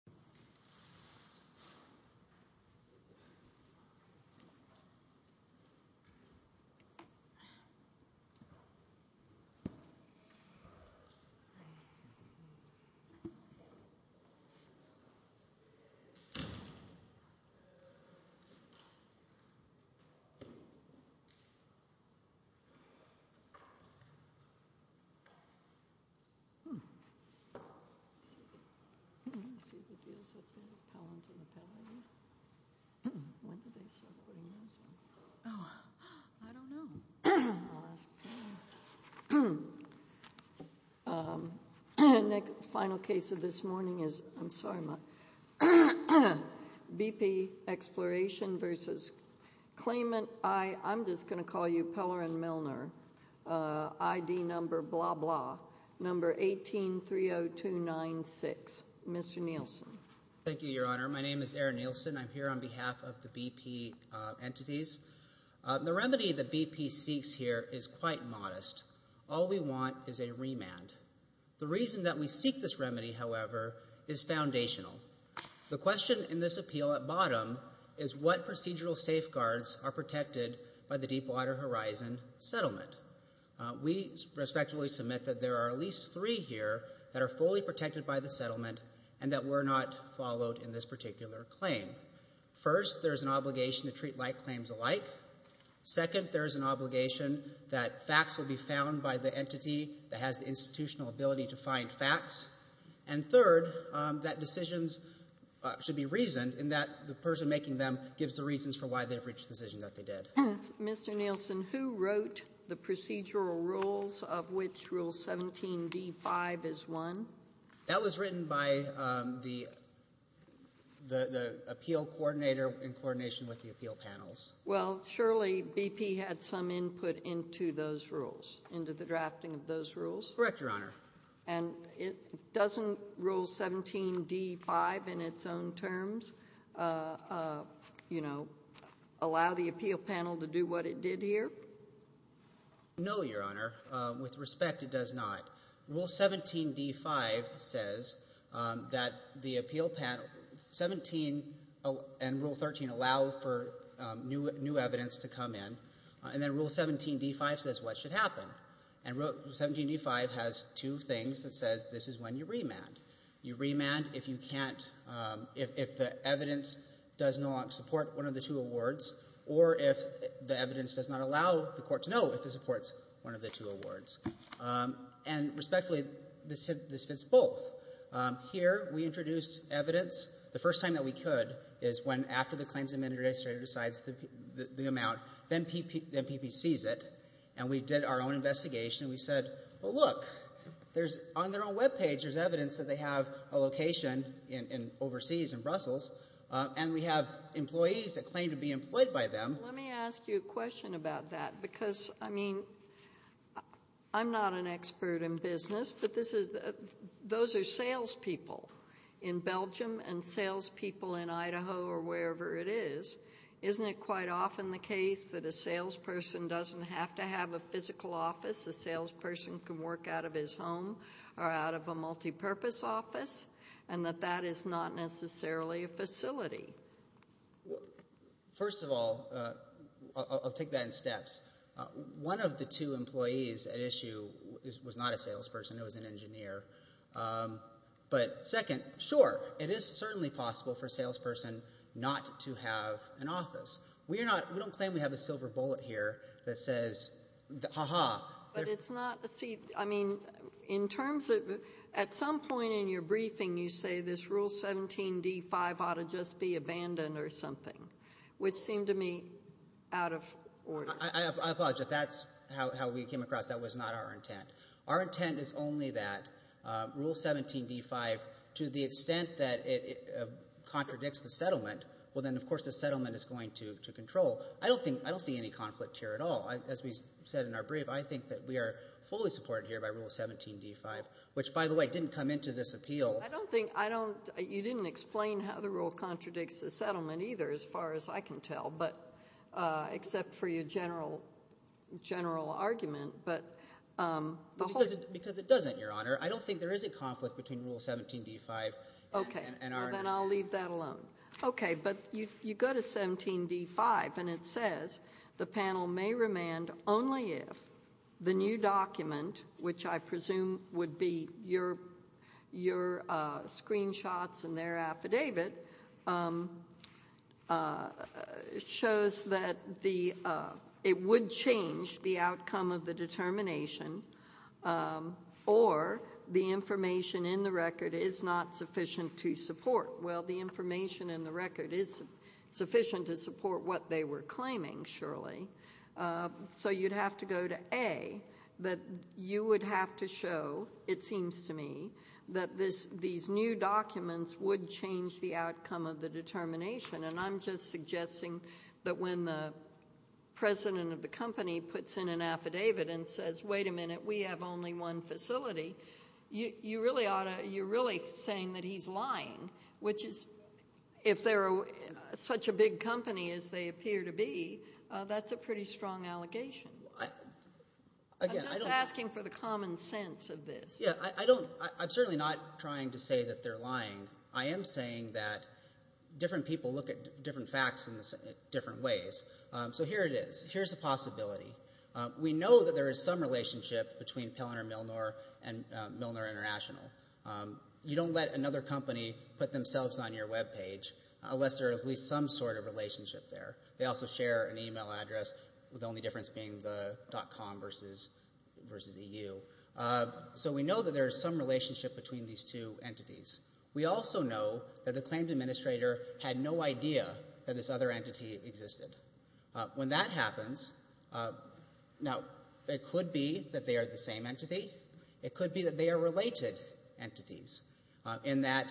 ID Exploration & Prodn, Inc. v. ID Exploration & Prodn, Inc. v. ID Exploration & Prodn, Inc. Next, final case of this morning is, I'm sorry, BP Exploration v. Claimant I, I'm just going to call you Peller and Milner, ID number blah, blah, number 1830296. Mr. Nielsen. Thank you, Your Honor. My name is Aaron Nielsen. I'm here on behalf of the BP entities. The remedy that BP seeks here is quite modest. All we want is a remand. The reason that we seek this remedy, however, is foundational. The question in this appeal at bottom is what procedural safeguards are protected by the Deepwater Horizon settlement? We respectfully submit that there are at least three here that are fully protected by the settlement and that were not followed in this particular claim. First, there is an obligation to treat like claims alike. Second, there is an obligation that facts will be found by the entity that has the institutional ability to find facts. And third, that decisions should be reasoned in that the person making them gives the reasons for why they have reached the decision that they did. Mr. Nielsen, who wrote the procedural rules of which Rule 17d5 is one? That was written by the the appeal coordinator in coordination with the appeal panels. Well, surely BP had some input into those rules, into the drafting of those rules? Correct, Your Honor. And doesn't Rule 17d5 in its own terms, you know, allow the appeal panel to do what it did here? No, Your Honor. With respect, it does not. Rule 17d5 says that the appeal panel, 17 and Rule 13 allow for new evidence to come in. And then Rule 17d5 says what should happen. And Rule 17d5 has two things. It says this is when you remand. You remand if you can't if the evidence does not support one of the two awards or if the evidence does not allow the court to know if it supports one of the two awards. And respectfully, this fits both. Here we introduced evidence the first time that we could is when after the claims MPP sees it and we did our own investigation, we said, well, look, there's on their own web page, there's evidence that they have a location in overseas in Brussels and we have employees that claim to be employed by them. Let me ask you a question about that, because, I mean, I'm not an expert in business, but those are salespeople in Belgium and salespeople in Idaho or wherever it is. Isn't it quite often the case that a salesperson doesn't have to have a physical office? A salesperson can work out of his home or out of a multi-purpose office and that that is not necessarily a facility. First of all, I'll take that in steps. One of the two employees at issue was not a salesperson. It was an engineer. But second, sure, it is certainly possible for a salesperson not to have an office. We are not, we don't claim we have a silver bullet here that says, ha ha. But it's not, see, I mean, in terms of, at some point in your briefing, you say this Rule 17 D5 ought to just be abandoned or something, which seemed to me out of order. I apologize, if that's how we came across, that was not our intent. Our intent is only that Rule 17 D5, to the extent that it contradicts the settlement, well then, of course, the settlement is going to control. I don't think, I don't see any conflict here at all. As we said in our brief, I think that we are fully supported here by Rule 17 D5, which, by the way, didn't come into this appeal. I don't think, I don't, you didn't explain how the rule contradicts the settlement either, as far as I can tell, but, except for your general, general argument, but, the whole. Because it doesn't, Your Honor. I don't think there is a conflict between Rule 17 D5 and our. Okay, then I'll leave that alone. Okay, but you go to 17 D5 and it says, the panel may remand only if the new document, which I presume would be your, your screenshots and their affidavit, shows that the, it would change the outcome of the determination, or the information in the record is not sufficient to support. Well, the information in the record is sufficient to support what they were claiming, surely. So, you'd have to go to A, that you would have to show, it seems to me, that this, these new documents would change the outcome of the determination. And I'm just suggesting that when the president of the company puts in an affidavit and says, wait a minute, we have only one facility, you, you really ought to, you're really saying that he's lying, which is, if they're such a big company as they appear to be, that's a pretty strong allegation. Again, I don't. I'm just asking for the common sense of this. Yeah, I don't, I'm certainly not trying to say that they're lying. I am saying that different people look at different facts in different ways. So, here it is. Here's a possibility. We know that there is some relationship between Pellner-Milnor and Milnor International. You don't let another company put themselves on your webpage, unless there is at least some sort of relationship there. They also share an email address, with the only difference being the .com versus, versus EU. So, we know that there is some relationship between these two entities. We also know that the claimed administrator had no idea that this other entity existed. When that happens, now, it could be that they are the same entity. It could be that they are related entities, in that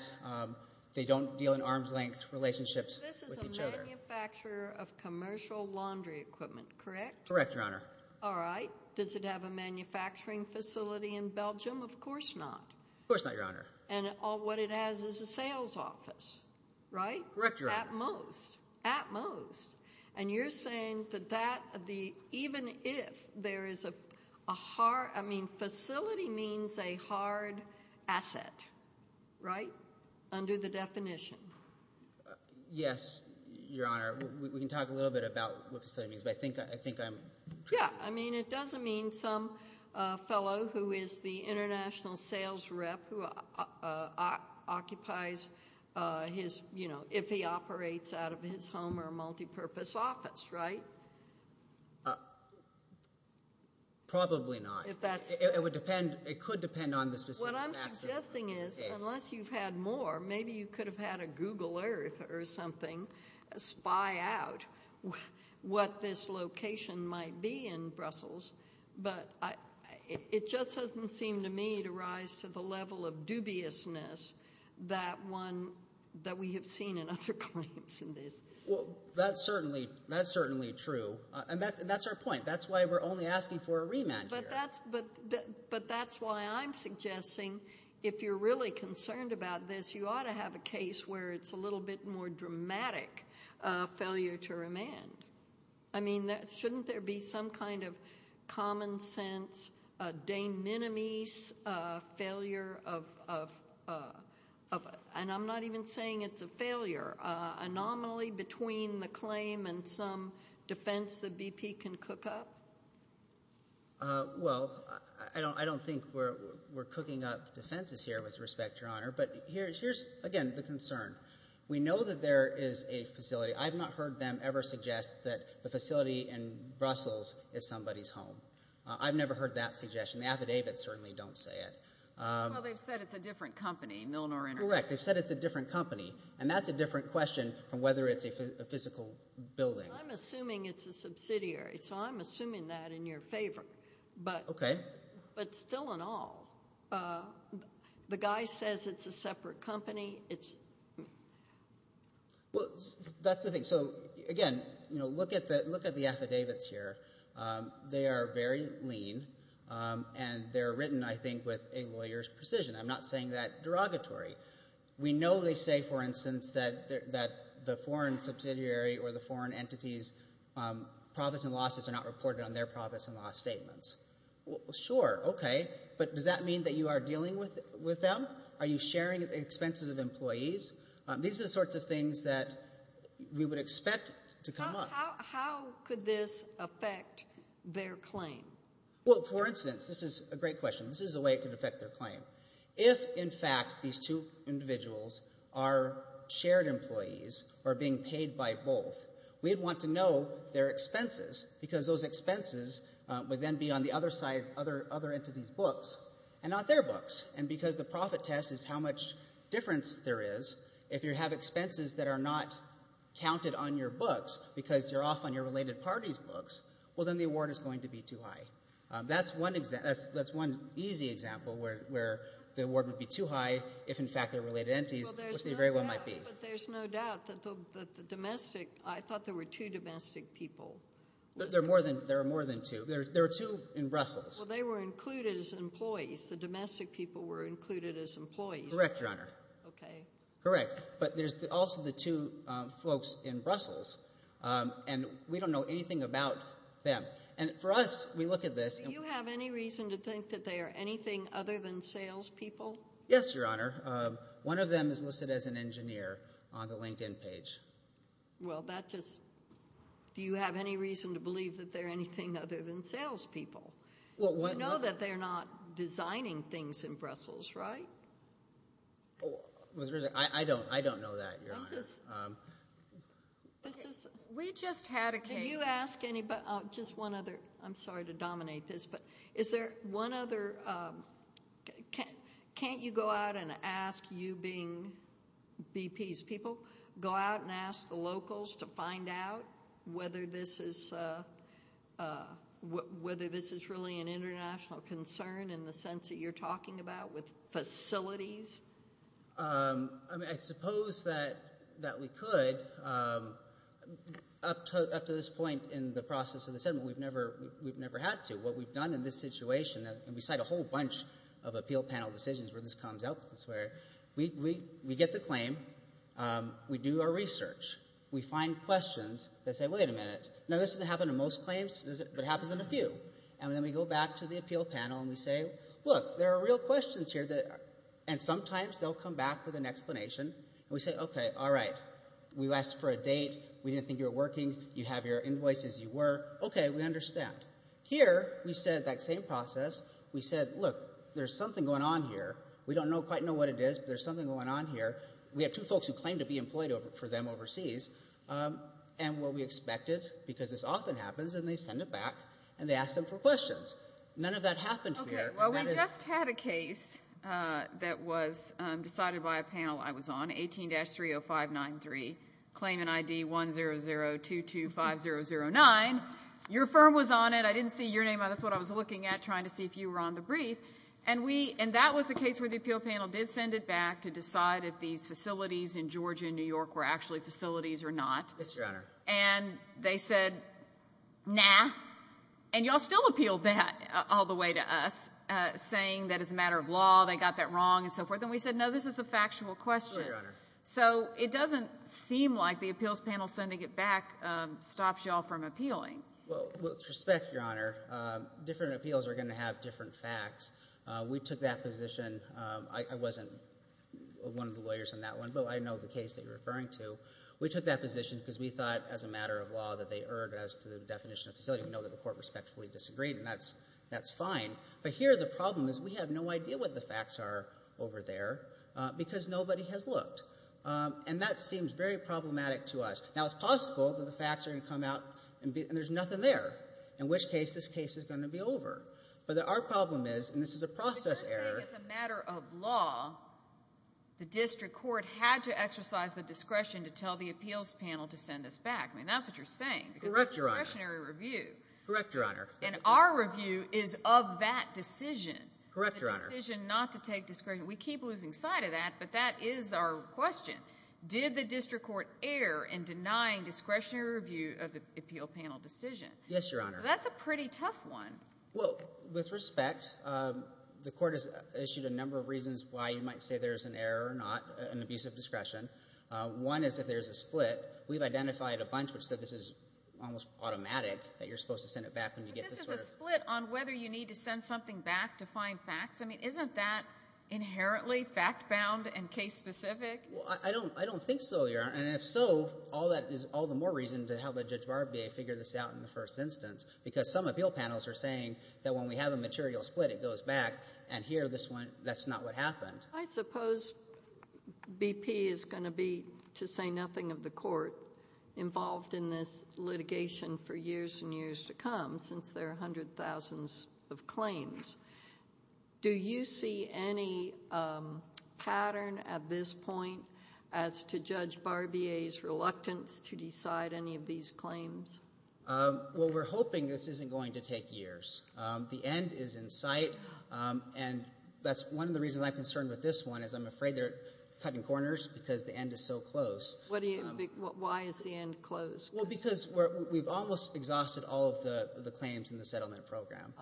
they don't deal in arm's-length relationships with each other. This is a manufacturer of commercial laundry equipment, correct? Correct, Your Honor. All right. Does it have a manufacturing facility in Belgium? Of course not. Of course not, Your Honor. And what it has is a sales office, right? Correct, Your Honor. At most. At most. And you're saying that even if there is a hard, I mean, facility means a hard asset, right? Under the definition. Yes, Your Honor. We can talk a little bit about what facility means, but I think I'm true. Yeah, I mean, it doesn't mean some fellow who is the international sales rep who occupies his, you know, if he operates out of his home or multi-purpose office, right? Probably not. If that's. It would depend. It could depend on the specific asset. What I'm suggesting is, unless you've had more, maybe you could have had a Google Earth or something spy out what this location might be in Brussels. But it just doesn't seem to me to rise to the level of dubiousness that we have seen in other claims in this. Well, that's certainly true. And that's our point. That's why we're only asking for a remand here. But that's why I'm suggesting if you're really concerned about this, you ought to have a case where it's a little bit more dramatic failure to remand. I mean, shouldn't there be some kind of common sense de minimis failure of, and I'm not even saying it's a failure, anomaly between the claim and some defense that BP can cook up? Well, I don't think we're cooking up defenses here with respect, Your Honor. But here's, again, the concern. We know that there is a facility. I've not heard them ever suggest that the facility in Brussels is somebody's home. I've never heard that suggestion. The affidavits certainly don't say it. Well, they've said it's a different company, Milnor International. Correct. They've said it's a different company. And that's a different question from whether it's a physical building. I'm assuming it's a subsidiary. So I'm assuming that in your favor. But still in all, the guy says it's a separate company. It's... Well, that's the thing. So again, look at the affidavits here. They are very lean. And they're written, I think, with a lawyer's precision. I'm not saying that derogatory. We know they say, for instance, that the foreign subsidiary or the foreign entities, profits and losses are not reported on their profits and loss statements. Sure. Okay. But does that mean that you are dealing with them? Are you sharing the expenses of employees? These are the sorts of things that we would expect to come up. How could this affect their claim? Well, for instance, this is a great question. This is a way it could affect their claim. If, in fact, these two individuals are shared employees or being paid by both, we'd want to know their expenses. Because those expenses would then be on the other side of other entities' books and not their books. And because the profit test is how much difference there is, if you have expenses that are not counted on your books because you're off on your related parties' books, well, then the award is going to be too high. That's one easy example where the award would be too high if, in fact, they're related entities, which they very well might be. But there's no doubt that the domestic— I thought there were two domestic people. There are more than two. There are two in Brussels. Well, they were included as employees. The domestic people were included as employees. Correct, Your Honor. Okay. Correct. But there's also the two folks in Brussels. And we don't know anything about them. And for us, we look at this— Do you have any reason to think that they are anything other than salespeople? Yes, Your Honor. One of them is listed as an engineer on the LinkedIn page. Well, that just— Do you have any reason to believe that they're anything other than salespeople? You know that they're not designing things in Brussels, right? I don't. I don't know that, Your Honor. We just had a case— Can you ask anybody— Just one other—I'm sorry to dominate this, but is there one other— Can't you go out and ask you being BPs, people? Go out and ask the locals to find out whether this is really an international concern in the sense that you're talking about with facilities? I mean, I suppose that we could. Up to this point in the process of the settlement, we've never had to. What we've done in this situation—and we cite a whole bunch of appeal panel decisions where this comes up—we get the claim. We do our research. We find questions. They say, wait a minute. Now, this doesn't happen in most claims, but it happens in a few. And then we go back to the appeal panel and we say, look, there are real questions here and sometimes they'll come back with an explanation. We say, okay, all right. We asked for a date. We didn't think you were working. You have your invoices. You were. Okay, we understand. Here, we said that same process. We said, look, there's something going on here. We don't quite know what it is, but there's something going on here. We have two folks who claim to be employed for them overseas. And will we expect it? Because this often happens and they send it back and they ask them for questions. None of that happened here. Okay, well, we just had a case that was decided by a panel I was on, 18-30593, claimant ID 100225009. Your firm was on it. I didn't see your name on it. That's what I was looking at, trying to see if you were on the brief. And that was a case where the appeal panel did send it back to decide if these facilities in Georgia and New York were actually facilities or not. Yes, Your Honor. And they said, nah. And y'all still appealed that all the way to us, saying that it's a matter of law. They got that wrong and so forth. And we said, no, this is a factual question. Sure, Your Honor. So it doesn't seem like the appeals panel sending it back stops y'all from appealing. Well, with respect, Your Honor, different appeals are going to have different facts. We took that position. I wasn't one of the lawyers in that one, but I know the case that you're referring to. We took that position because we thought as a matter of law that they erred as to the definition of facility. We know that the Court respectfully disagreed, and that's fine. But here the problem is we have no idea what the facts are over there because nobody has looked. And that seems very problematic to us. Now, it's possible that the facts are going to come out and there's nothing there, in which case this case is going to be over. But our problem is, and this is a process error. But you're saying as a matter of law the district court had to exercise the discretion to tell the appeals panel to send us back. I mean, that's what you're saying. Correct, Your Honor. Because it's a discretionary review. Correct, Your Honor. And our review is of that decision. Correct, Your Honor. The decision not to take discretion. We keep losing sight of that, but that is our question. Did the district court err in denying discretionary review of the appeal panel decision? Yes, Your Honor. So that's a pretty tough one. Well, with respect, the Court has issued a number of reasons why you might say there's an error or not, an abuse of discretion. One is if there's a split. We've identified a bunch which said this is almost automatic, that you're supposed to send it back when you get the sort of But this is a split on whether you need to send something back to find facts. I mean, isn't that inherently fact-bound and case-specific? Well, I don't think so, Your Honor. And if so, all that is all the more reason to have the Judge Barbier figure this out in the first instance, because some appeal panels are saying that when we have a material split, it goes back. And here, this one, that's not what happened. I suppose BP is going to be, to say nothing of the Court, involved in this litigation for years and years to come, since there are hundreds of thousands of claims. Do you see any pattern at this point as to Judge Barbier's reluctance to decide any of these claims? Well, we're hoping this isn't going to take years. The end is in sight. And that's one of the reasons I'm concerned with this one, is I'm afraid they're cutting corners because the end is so close. Why is the end close? Well, because we've almost exhausted all of the claims in the settlement program.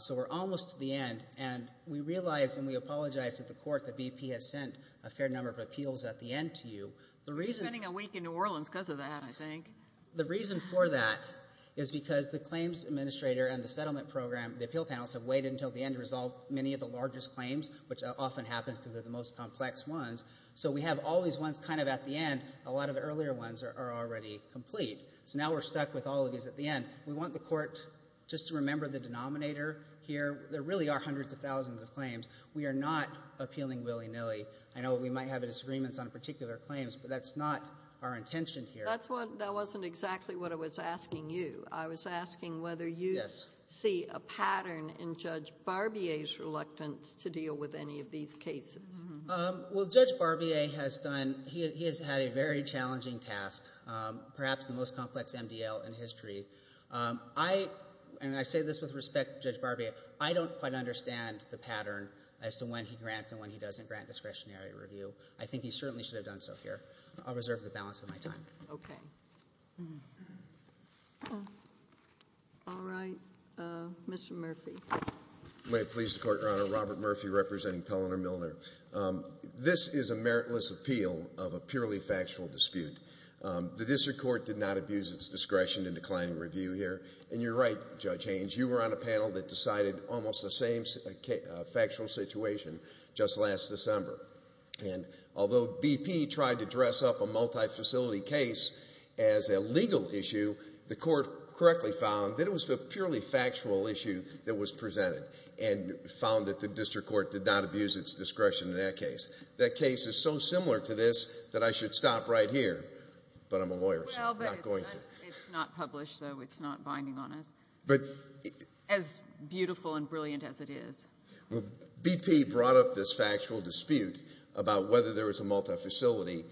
So we're almost to the end. And we realize and we apologize to the Court that BP has sent a fair number of appeals at the end to you. The reason we're spending a week in New Orleans because of that, I think. The reason for that is because the claims administrator and the settlement program, the appeal panels, have waited until the end to resolve many of the largest claims, which often happens because they're the most complex ones. So we have all these ones kind of at the end. A lot of the earlier ones are already complete. So now we're stuck with all of these at the end. We want the Court just to remember the denominator here. There really are hundreds of thousands of claims. We are not appealing willy-nilly. I know we might have disagreements on particular claims, but that's not our intention here. That's what — that wasn't exactly what I was asking you. I was asking whether you see a pattern in Judge Barbier's reluctance to deal with any of these cases. Well, Judge Barbier has done — he has had a very challenging task, perhaps the most I — and I say this with respect to Judge Barbier. I don't quite understand the pattern as to when he grants and when he doesn't grant discretionary review. I think he certainly should have done so here. I'll reserve the balance of my time. Okay. All right. Mr. Murphy. May it please the Court, Your Honor. Robert Murphy representing Pelliner-Milner. This is a meritless appeal of a purely factual dispute. The district court did not abuse its discretion in declining review. And you're right, Judge Haynes. You were on a panel that decided almost the same factual situation just last December. And although BP tried to dress up a multi-facility case as a legal issue, the Court correctly found that it was a purely factual issue that was presented and found that the district court did not abuse its discretion in that case. That case is so similar to this that I should stop right here. But I'm a lawyer, so I'm not going to. It's not published, though. It's not binding on us. As beautiful and brilliant as it is. BP brought up this factual dispute about whether there was a multi-facility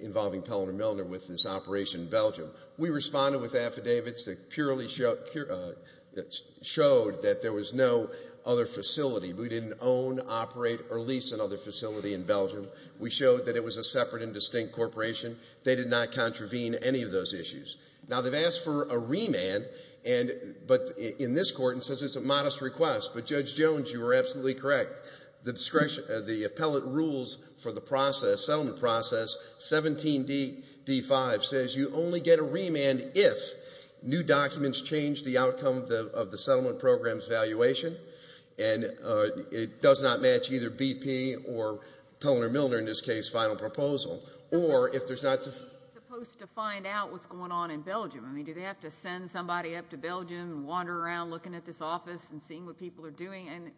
involving Pelliner-Milner with this operation in Belgium. We responded with affidavits that purely showed that there was no other facility. We didn't own, operate, or lease another facility in Belgium. We showed that it was a separate and distinct corporation. They did not contravene any of those issues. Now, they've asked for a remand, but in this Court, it says it's a modest request. But Judge Jones, you were absolutely correct. The appellate rules for the process, settlement process, 17d.d.5, says you only get a remand if new documents change the outcome of the settlement program's valuation and it does not match either BP or Pelliner-Milner, in this case, final proposal. Or if there's not... Are they supposed to find out what's going on in Belgium? I mean, do they have to send somebody up to Belgium and wander around looking at this office and seeing what people are doing? And,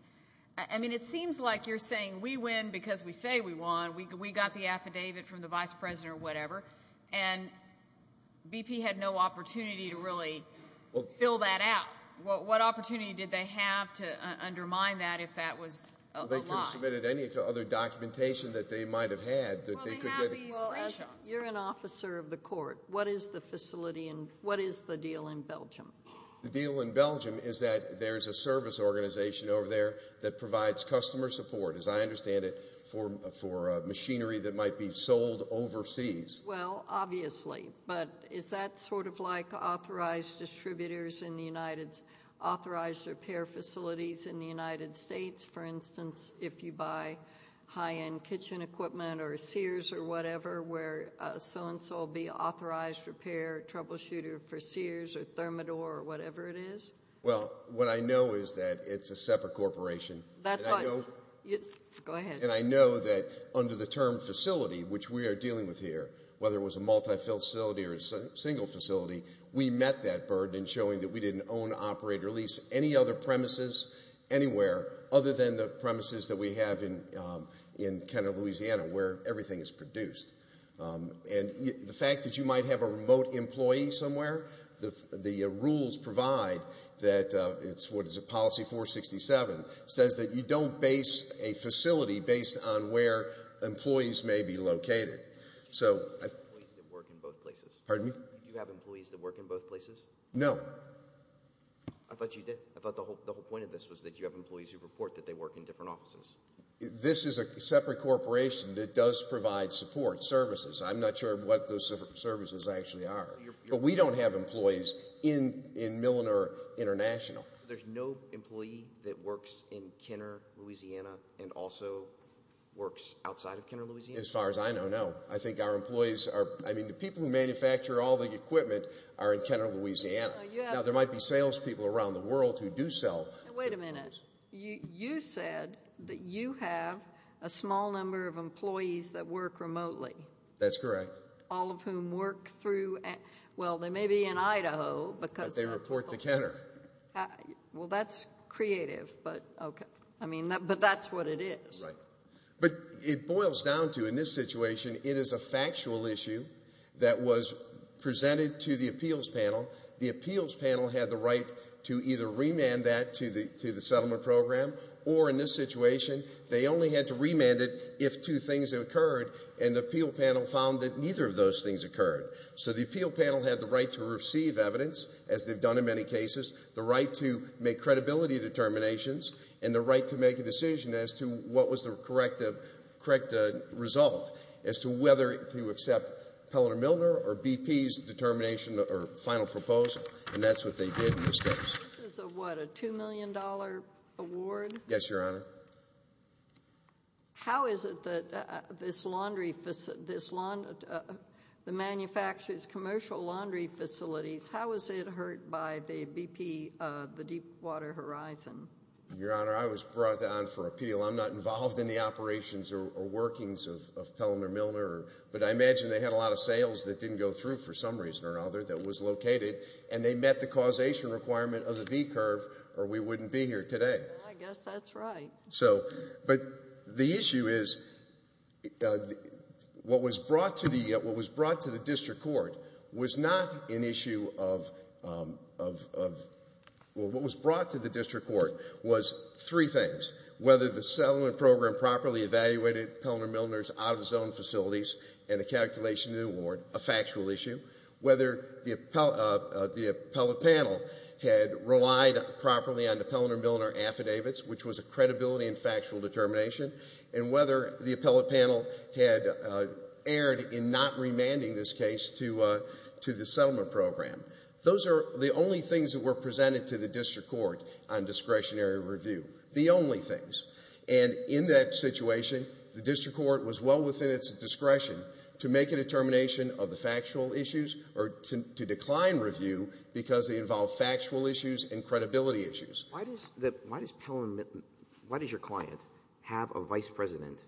I mean, it seems like you're saying we win because we say we won. We got the affidavit from the vice president or whatever. And BP had no opportunity to really fill that out. What opportunity did they have to undermine that if that was a lie? They could have submitted any other documentation that they might have had that they could get... Well, they have these... You're an officer of the Court. What is the facility and what is the deal in Belgium? The deal in Belgium is that there's a service organization over there that provides customer support, as I understand it, for machinery that might be sold overseas. Well, obviously. But is that sort of like authorized distributors in the United... Authorized repair facilities in the United States? For instance, if you buy high-end kitchen equipment or a Sears or whatever, where so and so will be an authorized repair troubleshooter for Sears or Thermador or whatever it is? Well, what I know is that it's a separate corporation. That's us. Go ahead. And I know that under the term facility, which we are dealing with here, whether it was a multi-facility or a single facility, we met that burden in showing that we didn't own, operate, or lease any other premises anywhere other than the premises that we have in Kenton, Louisiana, where everything is produced. And the fact that you might have a remote employee somewhere, the rules provide that it's, what is it, policy 467, says that you don't base a facility based on where employees may be located. Do you have employees that work in both places? Pardon me? Do you have employees that work in both places? No. I thought you did. I thought the whole point of this was that you have employees who report that they work in different offices. This is a separate corporation that does provide support services. I'm not sure what those services actually are. But we don't have employees in Milliner International. There's no employee that works in Kenner, Louisiana, and also works outside of Kenner, Louisiana? As far as I know, no. I think our employees are, I mean, the people who manufacture all the equipment are in Kenner, Louisiana. Now, there might be salespeople around the world who do sell. Wait a minute. You said that you have a small number of employees that work remotely. That's correct. All of whom work through, well, they may be in Idaho. But they report to Kenner. Well, that's creative, but okay. I mean, but that's what it is. Right. But it boils down to, in this situation, it is a factual issue that was presented to the appeals panel. The appeals panel had the right to either remand that to the settlement program, or in this situation, they only had to remand it if two things had occurred, and the appeal panel found that neither of those things occurred. So the appeal panel had the right to receive evidence, as they've done in many cases, the right to make credibility determinations, and the right to make a decision as to what was the correct result as to whether to accept Pelletter-Milner or BP's determination or final proposal, and that's what they did in this case. This is a what, a $2 million award? Yes, Your Honor. How is it that this laundry, this, the manufacturer's commercial laundry facilities, how is it hurt by the BP, the Deepwater Horizon? Your Honor, I was brought on for appeal. I'm not involved in the operations or workings of Pelletter-Milner, but I imagine they had a lot of sales that didn't go through for some reason or other that was located, and they met the causation requirement of the V-curve, or we wouldn't be here today. I guess that's right. So, but the issue is, what was brought to the, what was brought to the district court was not an issue of, well, what was brought to the district court was three things. Whether the settlement program properly evaluated Pelletter-Milner's out-of-the-zone facilities and the calculation of the award, a factual issue. Whether the appellate panel had relied properly on the Pelletter-Milner affidavits, which was a credibility and factual determination, and whether the appellate panel had erred in not remanding this case to the settlement program. Those are the only things that were presented to the district court on discretionary review. The only things. And in that situation, the district court was well within its discretion to make a determination of the factual issues or to decline review because they involve factual issues and credibility issues. Why does the, why does Pelletter-Milner, why does your client have a vice president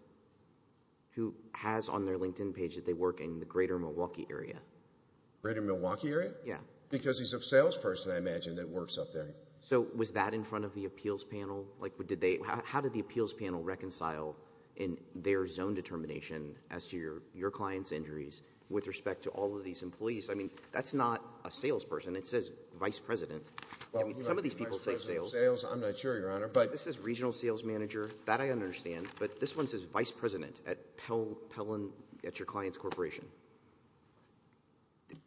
who has on their LinkedIn page that they work in the greater Milwaukee area? Greater Milwaukee area? Yeah. Because he's a salesperson, I imagine, that works up there. So, was that in front of the appeals panel? Like, did they, how did the appeals panel reconcile in their zone determination as to your client's injuries with respect to all of these employees? I mean, that's not a salesperson. It says vice president. Some of these people say sales. I'm not sure, Your Honor. But this says regional sales manager. That I understand. But this one says vice president at Pellen, at your client's corporation.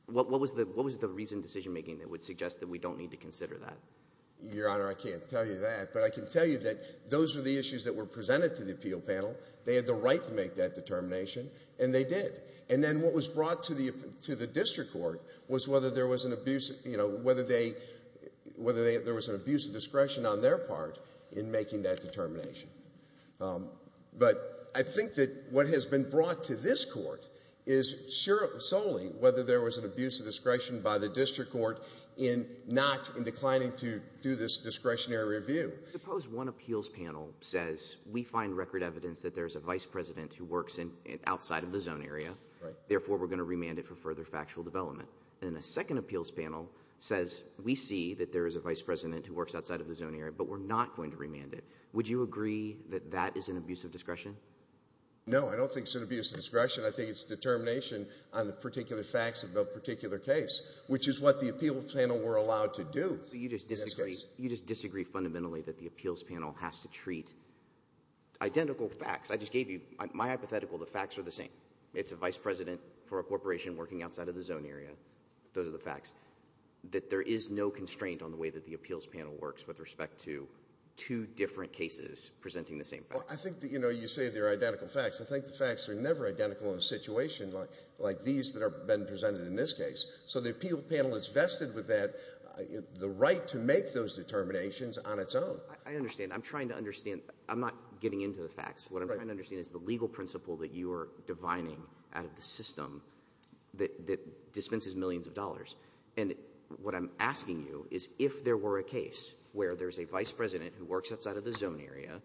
What was the reason decision making that would suggest that we don't need to consider that? Your Honor, I can't tell you that. But I can tell you that those are the issues that were presented to the appeal panel. They had the right to make that determination. And they did. And then what was brought to the district court was whether there was an abuse, you know, whether they, whether there was an abuse of discretion on their part in making that determination. But I think that what has been brought to this court is solely whether there was an abuse of discretion by the district court in not, in declining to do this discretionary review. Suppose one appeals panel says, we find record evidence that there is a vice president who works outside of the zone area. Therefore, we're going to remand it for further factual development. And a second appeals panel says, we see that there is a vice president who works outside of the zone area, but we're not going to remand it. Would you agree that that is an abuse of discretion? No, I don't think it's an abuse of discretion. I think it's determination on the particular facts of the particular case, which is what the appeal panel were allowed to do. You just disagree, you just disagree fundamentally that the appeals panel has to treat identical facts. I just gave you my hypothetical. The facts are the same. It's a vice president for a corporation working outside of the zone area. Those are the facts. That there is no constraint on the way that the appeals panel works with respect to two different cases presenting the same fact. I think that, you know, you say they're identical facts. I think the facts are never identical in a situation like these that have been presented in this case. So the appeal panel is vested with that, the right to make those determinations on its own. I understand. I'm trying to understand. I'm not getting into the facts. What I'm trying to understand is the legal principle that you are divining out of the system that dispenses millions of dollars. And what I'm asking you is if there were a case where there's a vice president who works outside of the zone area,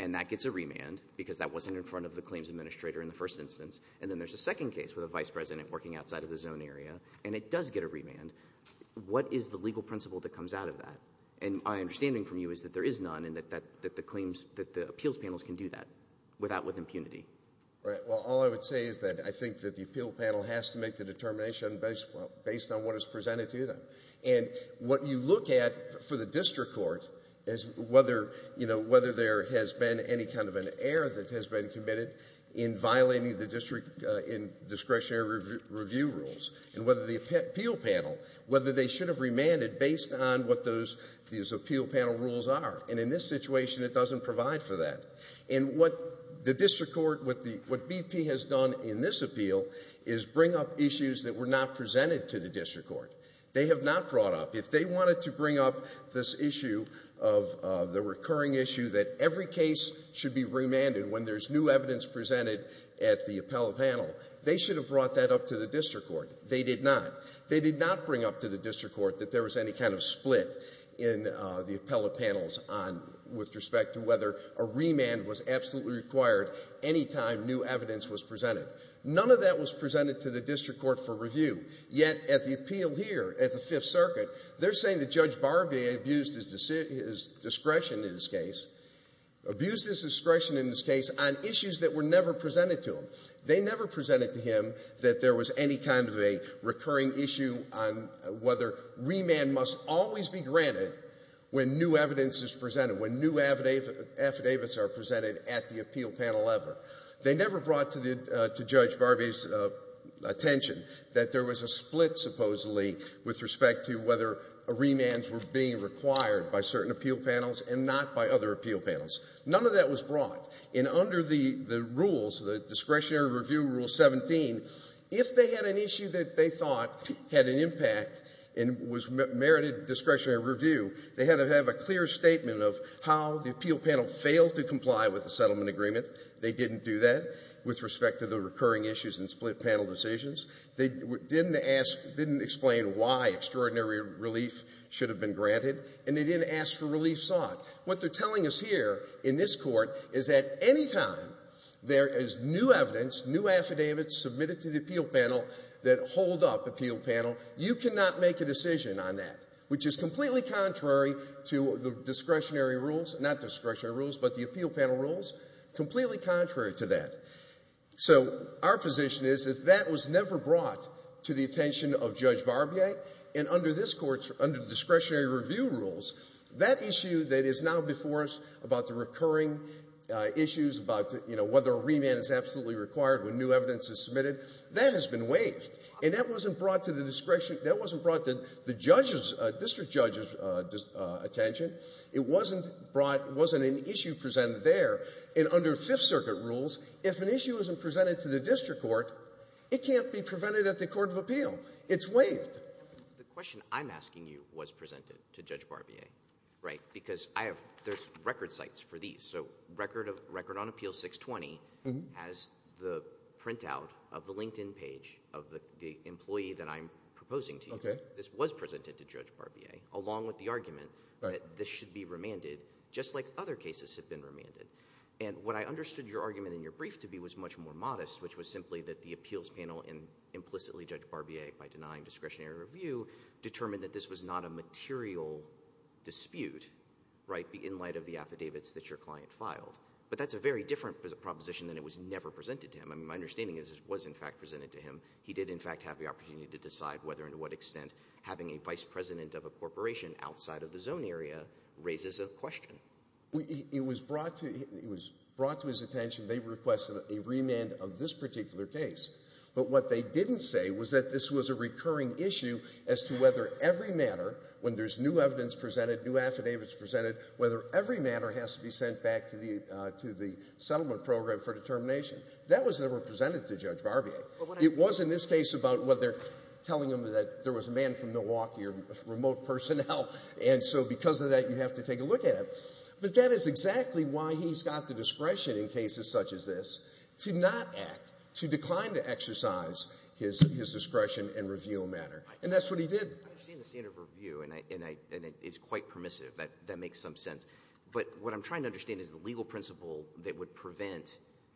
and that gets a remand because that wasn't in front of the claims administrator in the first instance, and then there's a second case with a vice president working outside of the zone area, and it does get a remand, what is the legal principle that comes out of that? And my understanding from you is that there is none and that the claims, that the appeals panels can do that without impunity. Right. Well, all I would say is that I think that the appeal panel has to make the determination based on what is presented to them. And what you look at for the district court is whether, you know, whether there has been any kind of an error that has been committed in violating the district discretionary review rules, and whether the appeal panel, whether they should have remanded based on what those, these appeal panel rules are. And in this situation, it doesn't provide for that. And what the district court, what BP has done in this appeal is bring up issues that were not presented to the district court. They have not brought up, if they wanted to bring up this issue of the recurring issue that every case should be remanded when there's new evidence presented at the appellate panel, they should have brought that up to the district court. They did not. They did not bring up to the district court that there was any kind of split in the appellate panels on, with respect to whether a remand was absolutely required any time new evidence was presented. None of that was presented to the district court for review. Yet, at the appeal here, at the Fifth Circuit, they're saying that Judge Barbier abused his discretion in this case, abused his discretion in this case on issues that were never presented to him. They never presented to him that there was any kind of a recurring issue on whether remand must always be granted when new evidence is presented, when new affidavits are presented at the appeal panel ever. They never brought to Judge Barbier's attention that there was a split, supposedly, with respect to whether remands were being required by certain appeal panels and not by other appeal panels. None of that was brought. And under the rules, the Discretionary Review Rule 17, if they had an issue that they thought had an impact and was merited discretionary review, they had to have a clear statement of how the appeal panel failed to comply with the settlement agreement. They didn't do that with respect to the recurring issues and split panel decisions. They didn't ask, didn't explain why extraordinary relief should have been granted. And they didn't ask for relief sought. What they're telling us here in this Court is that any time there is new evidence, new affidavits submitted to the appeal panel that hold up appeal panel, you cannot make a decision on that, which is completely contrary to the discretionary rules, not discretionary rules, but the appeal panel rules, completely contrary to that. So our position is that that was never brought to the attention of Judge Barbier. And under this Court, under the Discretionary Review Rules, that issue that is now before us about the recurring issues, about, you know, whether a remand is absolutely required when new evidence is submitted, that has been waived. And that wasn't brought to the discretion — that wasn't brought to the judges — district judges' attention. It wasn't brought — it wasn't an issue presented there. And under Fifth Circuit rules, if an issue isn't presented to the district court, it can't be presented at the court of appeal. It's waived. The question I'm asking you was presented to Judge Barbier, right? Because I have — there's record sites for these. So record of — record on Appeal 620 has the printout of the LinkedIn page of the employee that I'm proposing to you. Okay. This was presented to Judge Barbier, along with the argument that this should be remanded, just like other cases have been remanded. And what I understood your argument in your brief to be was much more modest, which was simply that the appeals panel implicitly judged Barbier by denying discretionary review, determined that this was not a material dispute, right, in light of the affidavits that your client filed. But that's a very different proposition than it was never presented to him. I mean, my understanding is it was, in fact, presented to him. He did, in fact, have the opportunity to decide whether and to what extent having a vice president of a corporation outside of the zone area raises a question. It was brought to — it was brought to his attention. They requested a remand of this particular case. But what they didn't say was that this was a recurring issue as to whether every matter, when there's new evidence presented, new affidavits presented, whether every matter has to be sent back to the settlement program for determination. That was never presented to Judge Barbier. It was in this case about whether — telling him that there was a man from Milwaukee or remote personnel. And so because of that, you have to take a look at it. But that is exactly why he's got the discretion in cases such as this to not exercise his discretion and review a matter. And that's what he did. I understand the standard of review, and it's quite permissive. That makes some sense. But what I'm trying to understand is the legal principle that would prevent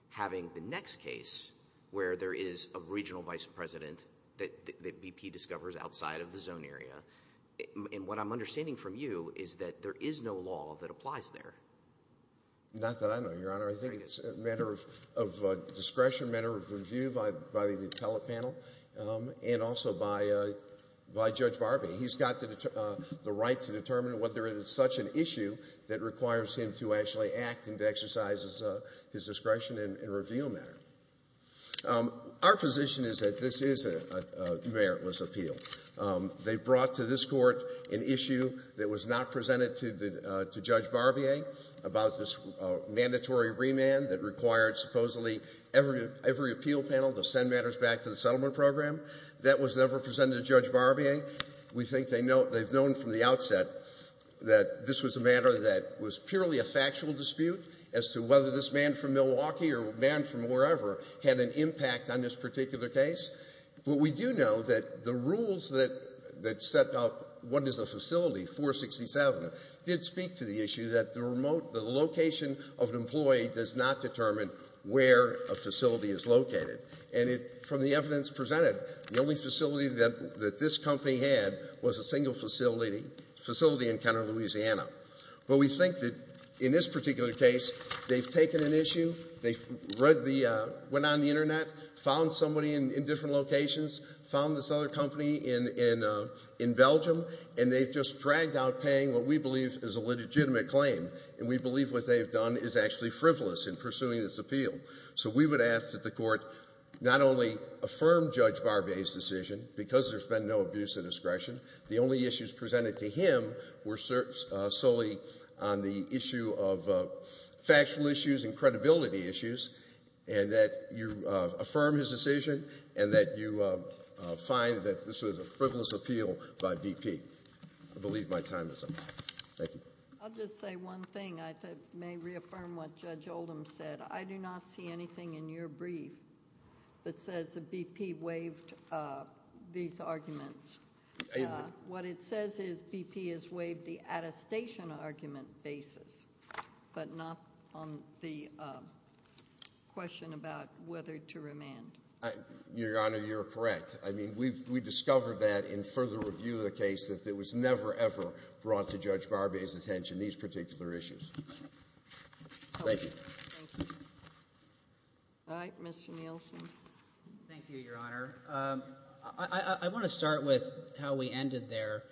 having the next case where there is a regional vice president that BP discovers outside of the zone area. And what I'm understanding from you is that there is no law that applies there. Not that I know, Your Honor. I think it's a matter of discretion, a matter of review by the appellate panel and also by Judge Barbier. He's got the right to determine whether there is such an issue that requires him to actually act and to exercise his discretion and review a matter. Our position is that this is a meritless appeal. They brought to this Court an issue that was not presented to Judge Barbier about this mandatory remand that required supposedly every appeal panel to send matters back to the settlement program. That was never presented to Judge Barbier. We think they've known from the outset that this was a matter that was purely a factual dispute as to whether this man from Milwaukee or man from wherever had an impact on this particular case. But we do know that the rules that set up what is a facility, 467, did speak to the location of an employee does not determine where a facility is located. And from the evidence presented, the only facility that this company had was a single facility in Kenner, Louisiana. But we think that in this particular case, they've taken an issue, they went on the Internet, found somebody in different locations, found this other company in Belgium, and they've just dragged out paying what we believe is a legitimate claim. And we believe what they've done is actually frivolous in pursuing this appeal. So we would ask that the Court not only affirm Judge Barbier's decision, because there's been no abuse of discretion, the only issues presented to him were solely on the issue of factual issues and credibility issues, and that you affirm his decision and that you find that this was a frivolous appeal by BP. I believe my time is up. Thank you. I'll just say one thing. I may reaffirm what Judge Oldham said. I do not see anything in your brief that says that BP waived these arguments. What it says is BP has waived the attestation argument basis, but not on the question about whether to remand. Your Honor, you're correct. I mean, we've discovered that in further review of the case that it was never, ever brought to Judge Barbier's attention, these particular issues. Thank you. All right. Mr. Nielsen. Thank you, Your Honor. I want to start with how we ended there.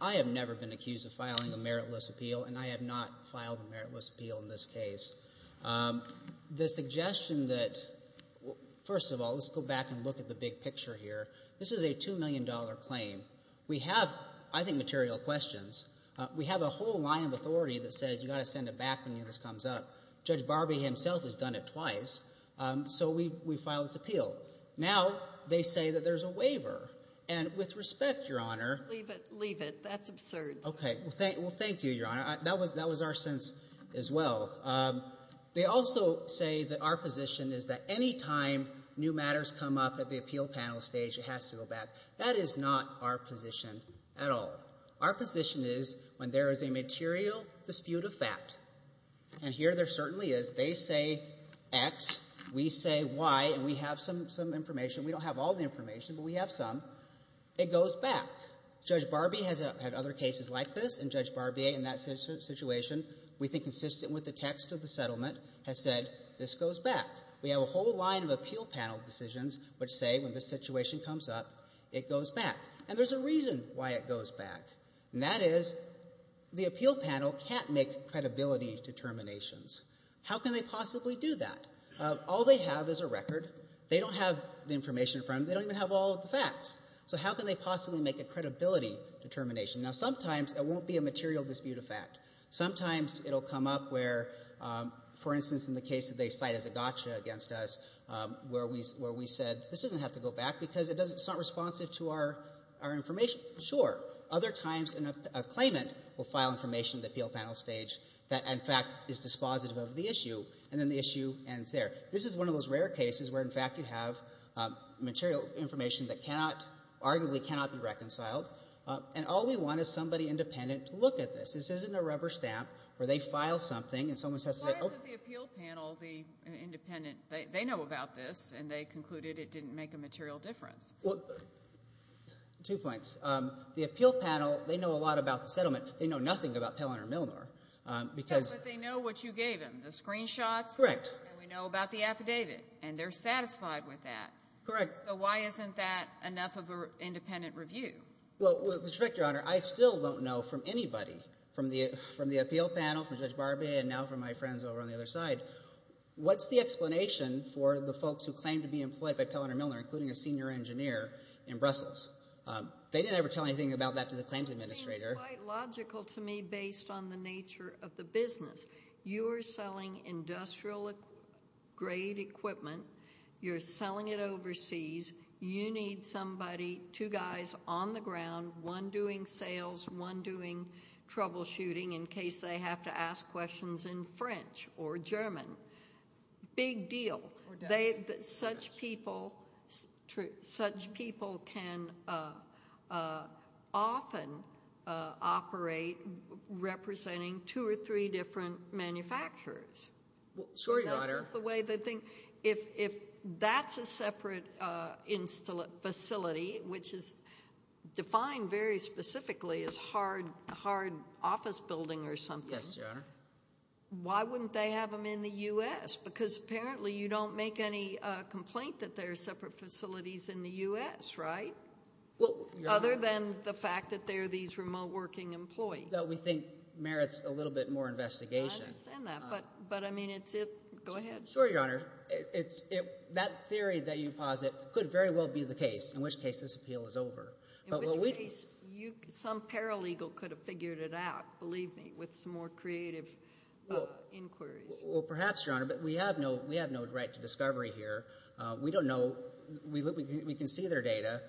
I have never been accused of filing a meritless appeal, and I have not filed a meritless appeal in this case. The suggestion that, first of all, let's go back and look at the big picture here. This is a $2 million claim. We have, I think, material questions. We have a whole line of authority that says you've got to send it back when this comes up. Judge Barbier himself has done it twice, so we filed this appeal. Now they say that there's a waiver, and with respect, Your Honor— Leave it. Leave it. That's absurd. Okay. Well, thank you, Your Honor. That was our sense as well. They also say that our position is that any time new matters come up at the appeal panel stage, it has to go back. That is not our position at all. Our position is when there is a material dispute of fact—and here there certainly is. They say X, we say Y, and we have some information. We don't have all the information, but we have some. It goes back. Judge Barbier has had other cases like this, and Judge Barbier, in that situation, we think consistent with the text of the settlement, has said this goes back. We have a whole line of appeal panel decisions which say when this situation comes up, it goes back. And there's a reason why it goes back, and that is the appeal panel can't make credibility determinations. How can they possibly do that? All they have is a record. They don't have the information in front of them. They don't even have all of the facts. So how can they possibly make a credibility determination? Now, sometimes it won't be a material dispute of fact. Sometimes it will come up where, for instance, in the case that they cite as a gotcha against us, where we said this doesn't have to go back because it's not responsive to our information. Sure. Other times a claimant will file information at the appeal panel stage that, in fact, is dispositive of the issue, and then the issue ends there. This is one of those rare cases where, in fact, you have material information that arguably cannot be reconciled, and all we want is somebody independent to look at this. This isn't a rubber stamp where they file something, and someone has to say, oh. Why is it the appeal panel, the independent, they know about this, and they concluded it didn't make a material difference? Well, two points. The appeal panel, they know a lot about the settlement. They know nothing about Pelloner and Milner because. But they know what you gave them, the screenshots. Correct. And we know about the affidavit, and they're satisfied with that. Correct. So why isn't that enough of an independent review? Well, Mr. Director, Your Honor, I still don't know from anybody, from the appeal panel, from Judge Barbee, and now from my friends over on the other side, what's the explanation for the folks who claim to be employed by Pelloner and Milner, including a senior engineer in Brussels? They didn't ever tell anything about that to the claims administrator. I think it's quite logical to me based on the nature of the business. You're selling industrial grade equipment. You're selling it overseas. You need somebody, two guys on the ground, one doing sales, one doing troubleshooting in case they have to ask questions in French or German. Big deal. Such people can often operate representing two or three different manufacturers. Well, sorry, Your Honor. The way they think, if that's a separate facility, which is defined very specifically as hard office building or something. Yes, Your Honor. Why wouldn't they have them in the U.S.? Because apparently you don't make any complaint that there are separate facilities in the U.S., right? Well, Your Honor. Other than the fact that they're these remote working employees. No, we think merits a little bit more investigation. I understand that. But I mean, it's it. Go ahead. Sure, Your Honor. That theory that you posit could very well be the case, in which case this appeal is over. In which case some paralegal could have figured it out, believe me, with some more creative inquiries. Well, perhaps, Your Honor. But we have no right to discovery here. We don't know. We can see their data,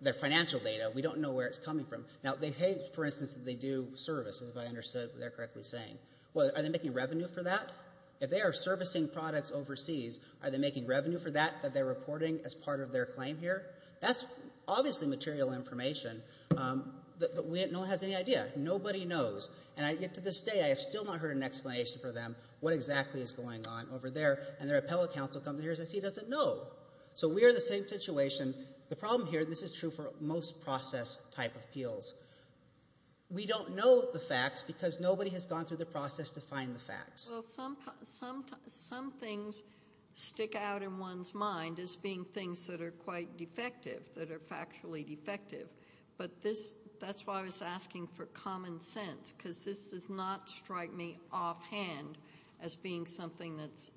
their financial data. We don't know where it's coming from. Now, they hate, for instance, that they do services, if I understood what they're correctly saying. Well, are they making revenue for that? If they are servicing products overseas, are they making revenue for that that they're reporting as part of their claim here? That's obviously material information. But no one has any idea. Nobody knows. And yet, to this day, I have still not heard an explanation for them what exactly is going on over there. And their appellate counsel comes here and says he doesn't know. So we are in the same situation. The problem here, this is true for most process type appeals. We don't know the facts because nobody has gone through the process to find the facts. Well, some things stick out in one's mind as being things that are quite defective, that are factually defective. But that's why I was asking for common sense, because this does not strike me offhand as being something that's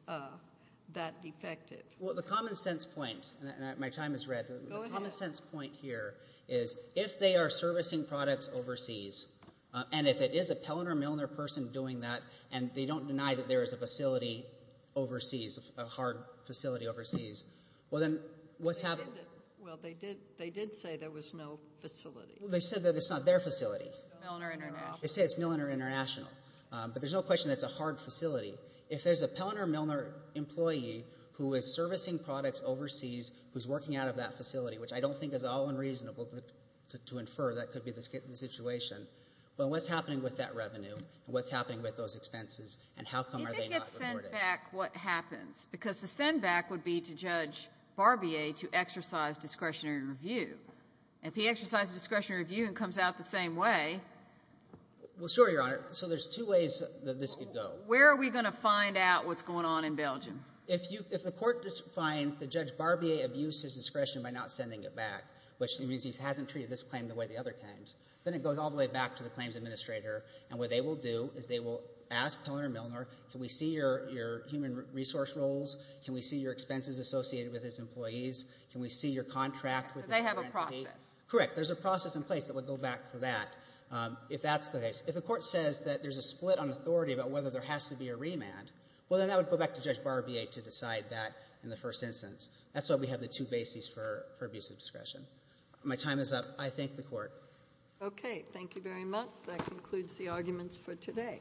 that defective. Well, the common sense point, and my time is red. Go ahead. The common sense point here is if they are servicing products overseas, and if it is a Pelliner-Milner person doing that, and they don't deny that there is a facility overseas, a hard facility overseas, well, then what's happening? Well, they did say there was no facility. They said that it's not their facility. It's Milliner International. They say it's Milliner International. But there's no question that's a hard facility. If there's a Pelliner-Milner employee who is servicing products overseas, who's working out of that facility, which I don't think is all unreasonable to infer, that could be the situation, well, what's happening with that revenue, and what's happening with those expenses, and how come are they not rewarded? If it gets sent back, what happens? Because the send-back would be to Judge Barbier to exercise discretionary review. If he exercises discretionary review and comes out the same way — Well, sure, Your Honor. So there's two ways that this could go. Where are we going to find out what's going on in Belgium? If you — if the court finds that Judge Barbier abused his discretion by not sending it back, which means he hasn't treated this claim the way the other claims, then it goes all the way back to the claims administrator. And what they will do is they will ask Pelliner-Milner, can we see your human resource roles? Can we see your expenses associated with his employees? Can we see your contract with — They have a process. Correct. There's a process in place that would go back for that, if that's the case. If the court says that there's a split on authority about whether there has to be a to decide that in the first instance. That's why we have the two bases for abusive discretion. My time is up. I thank the court. Okay. Thank you very much. That concludes the arguments for today.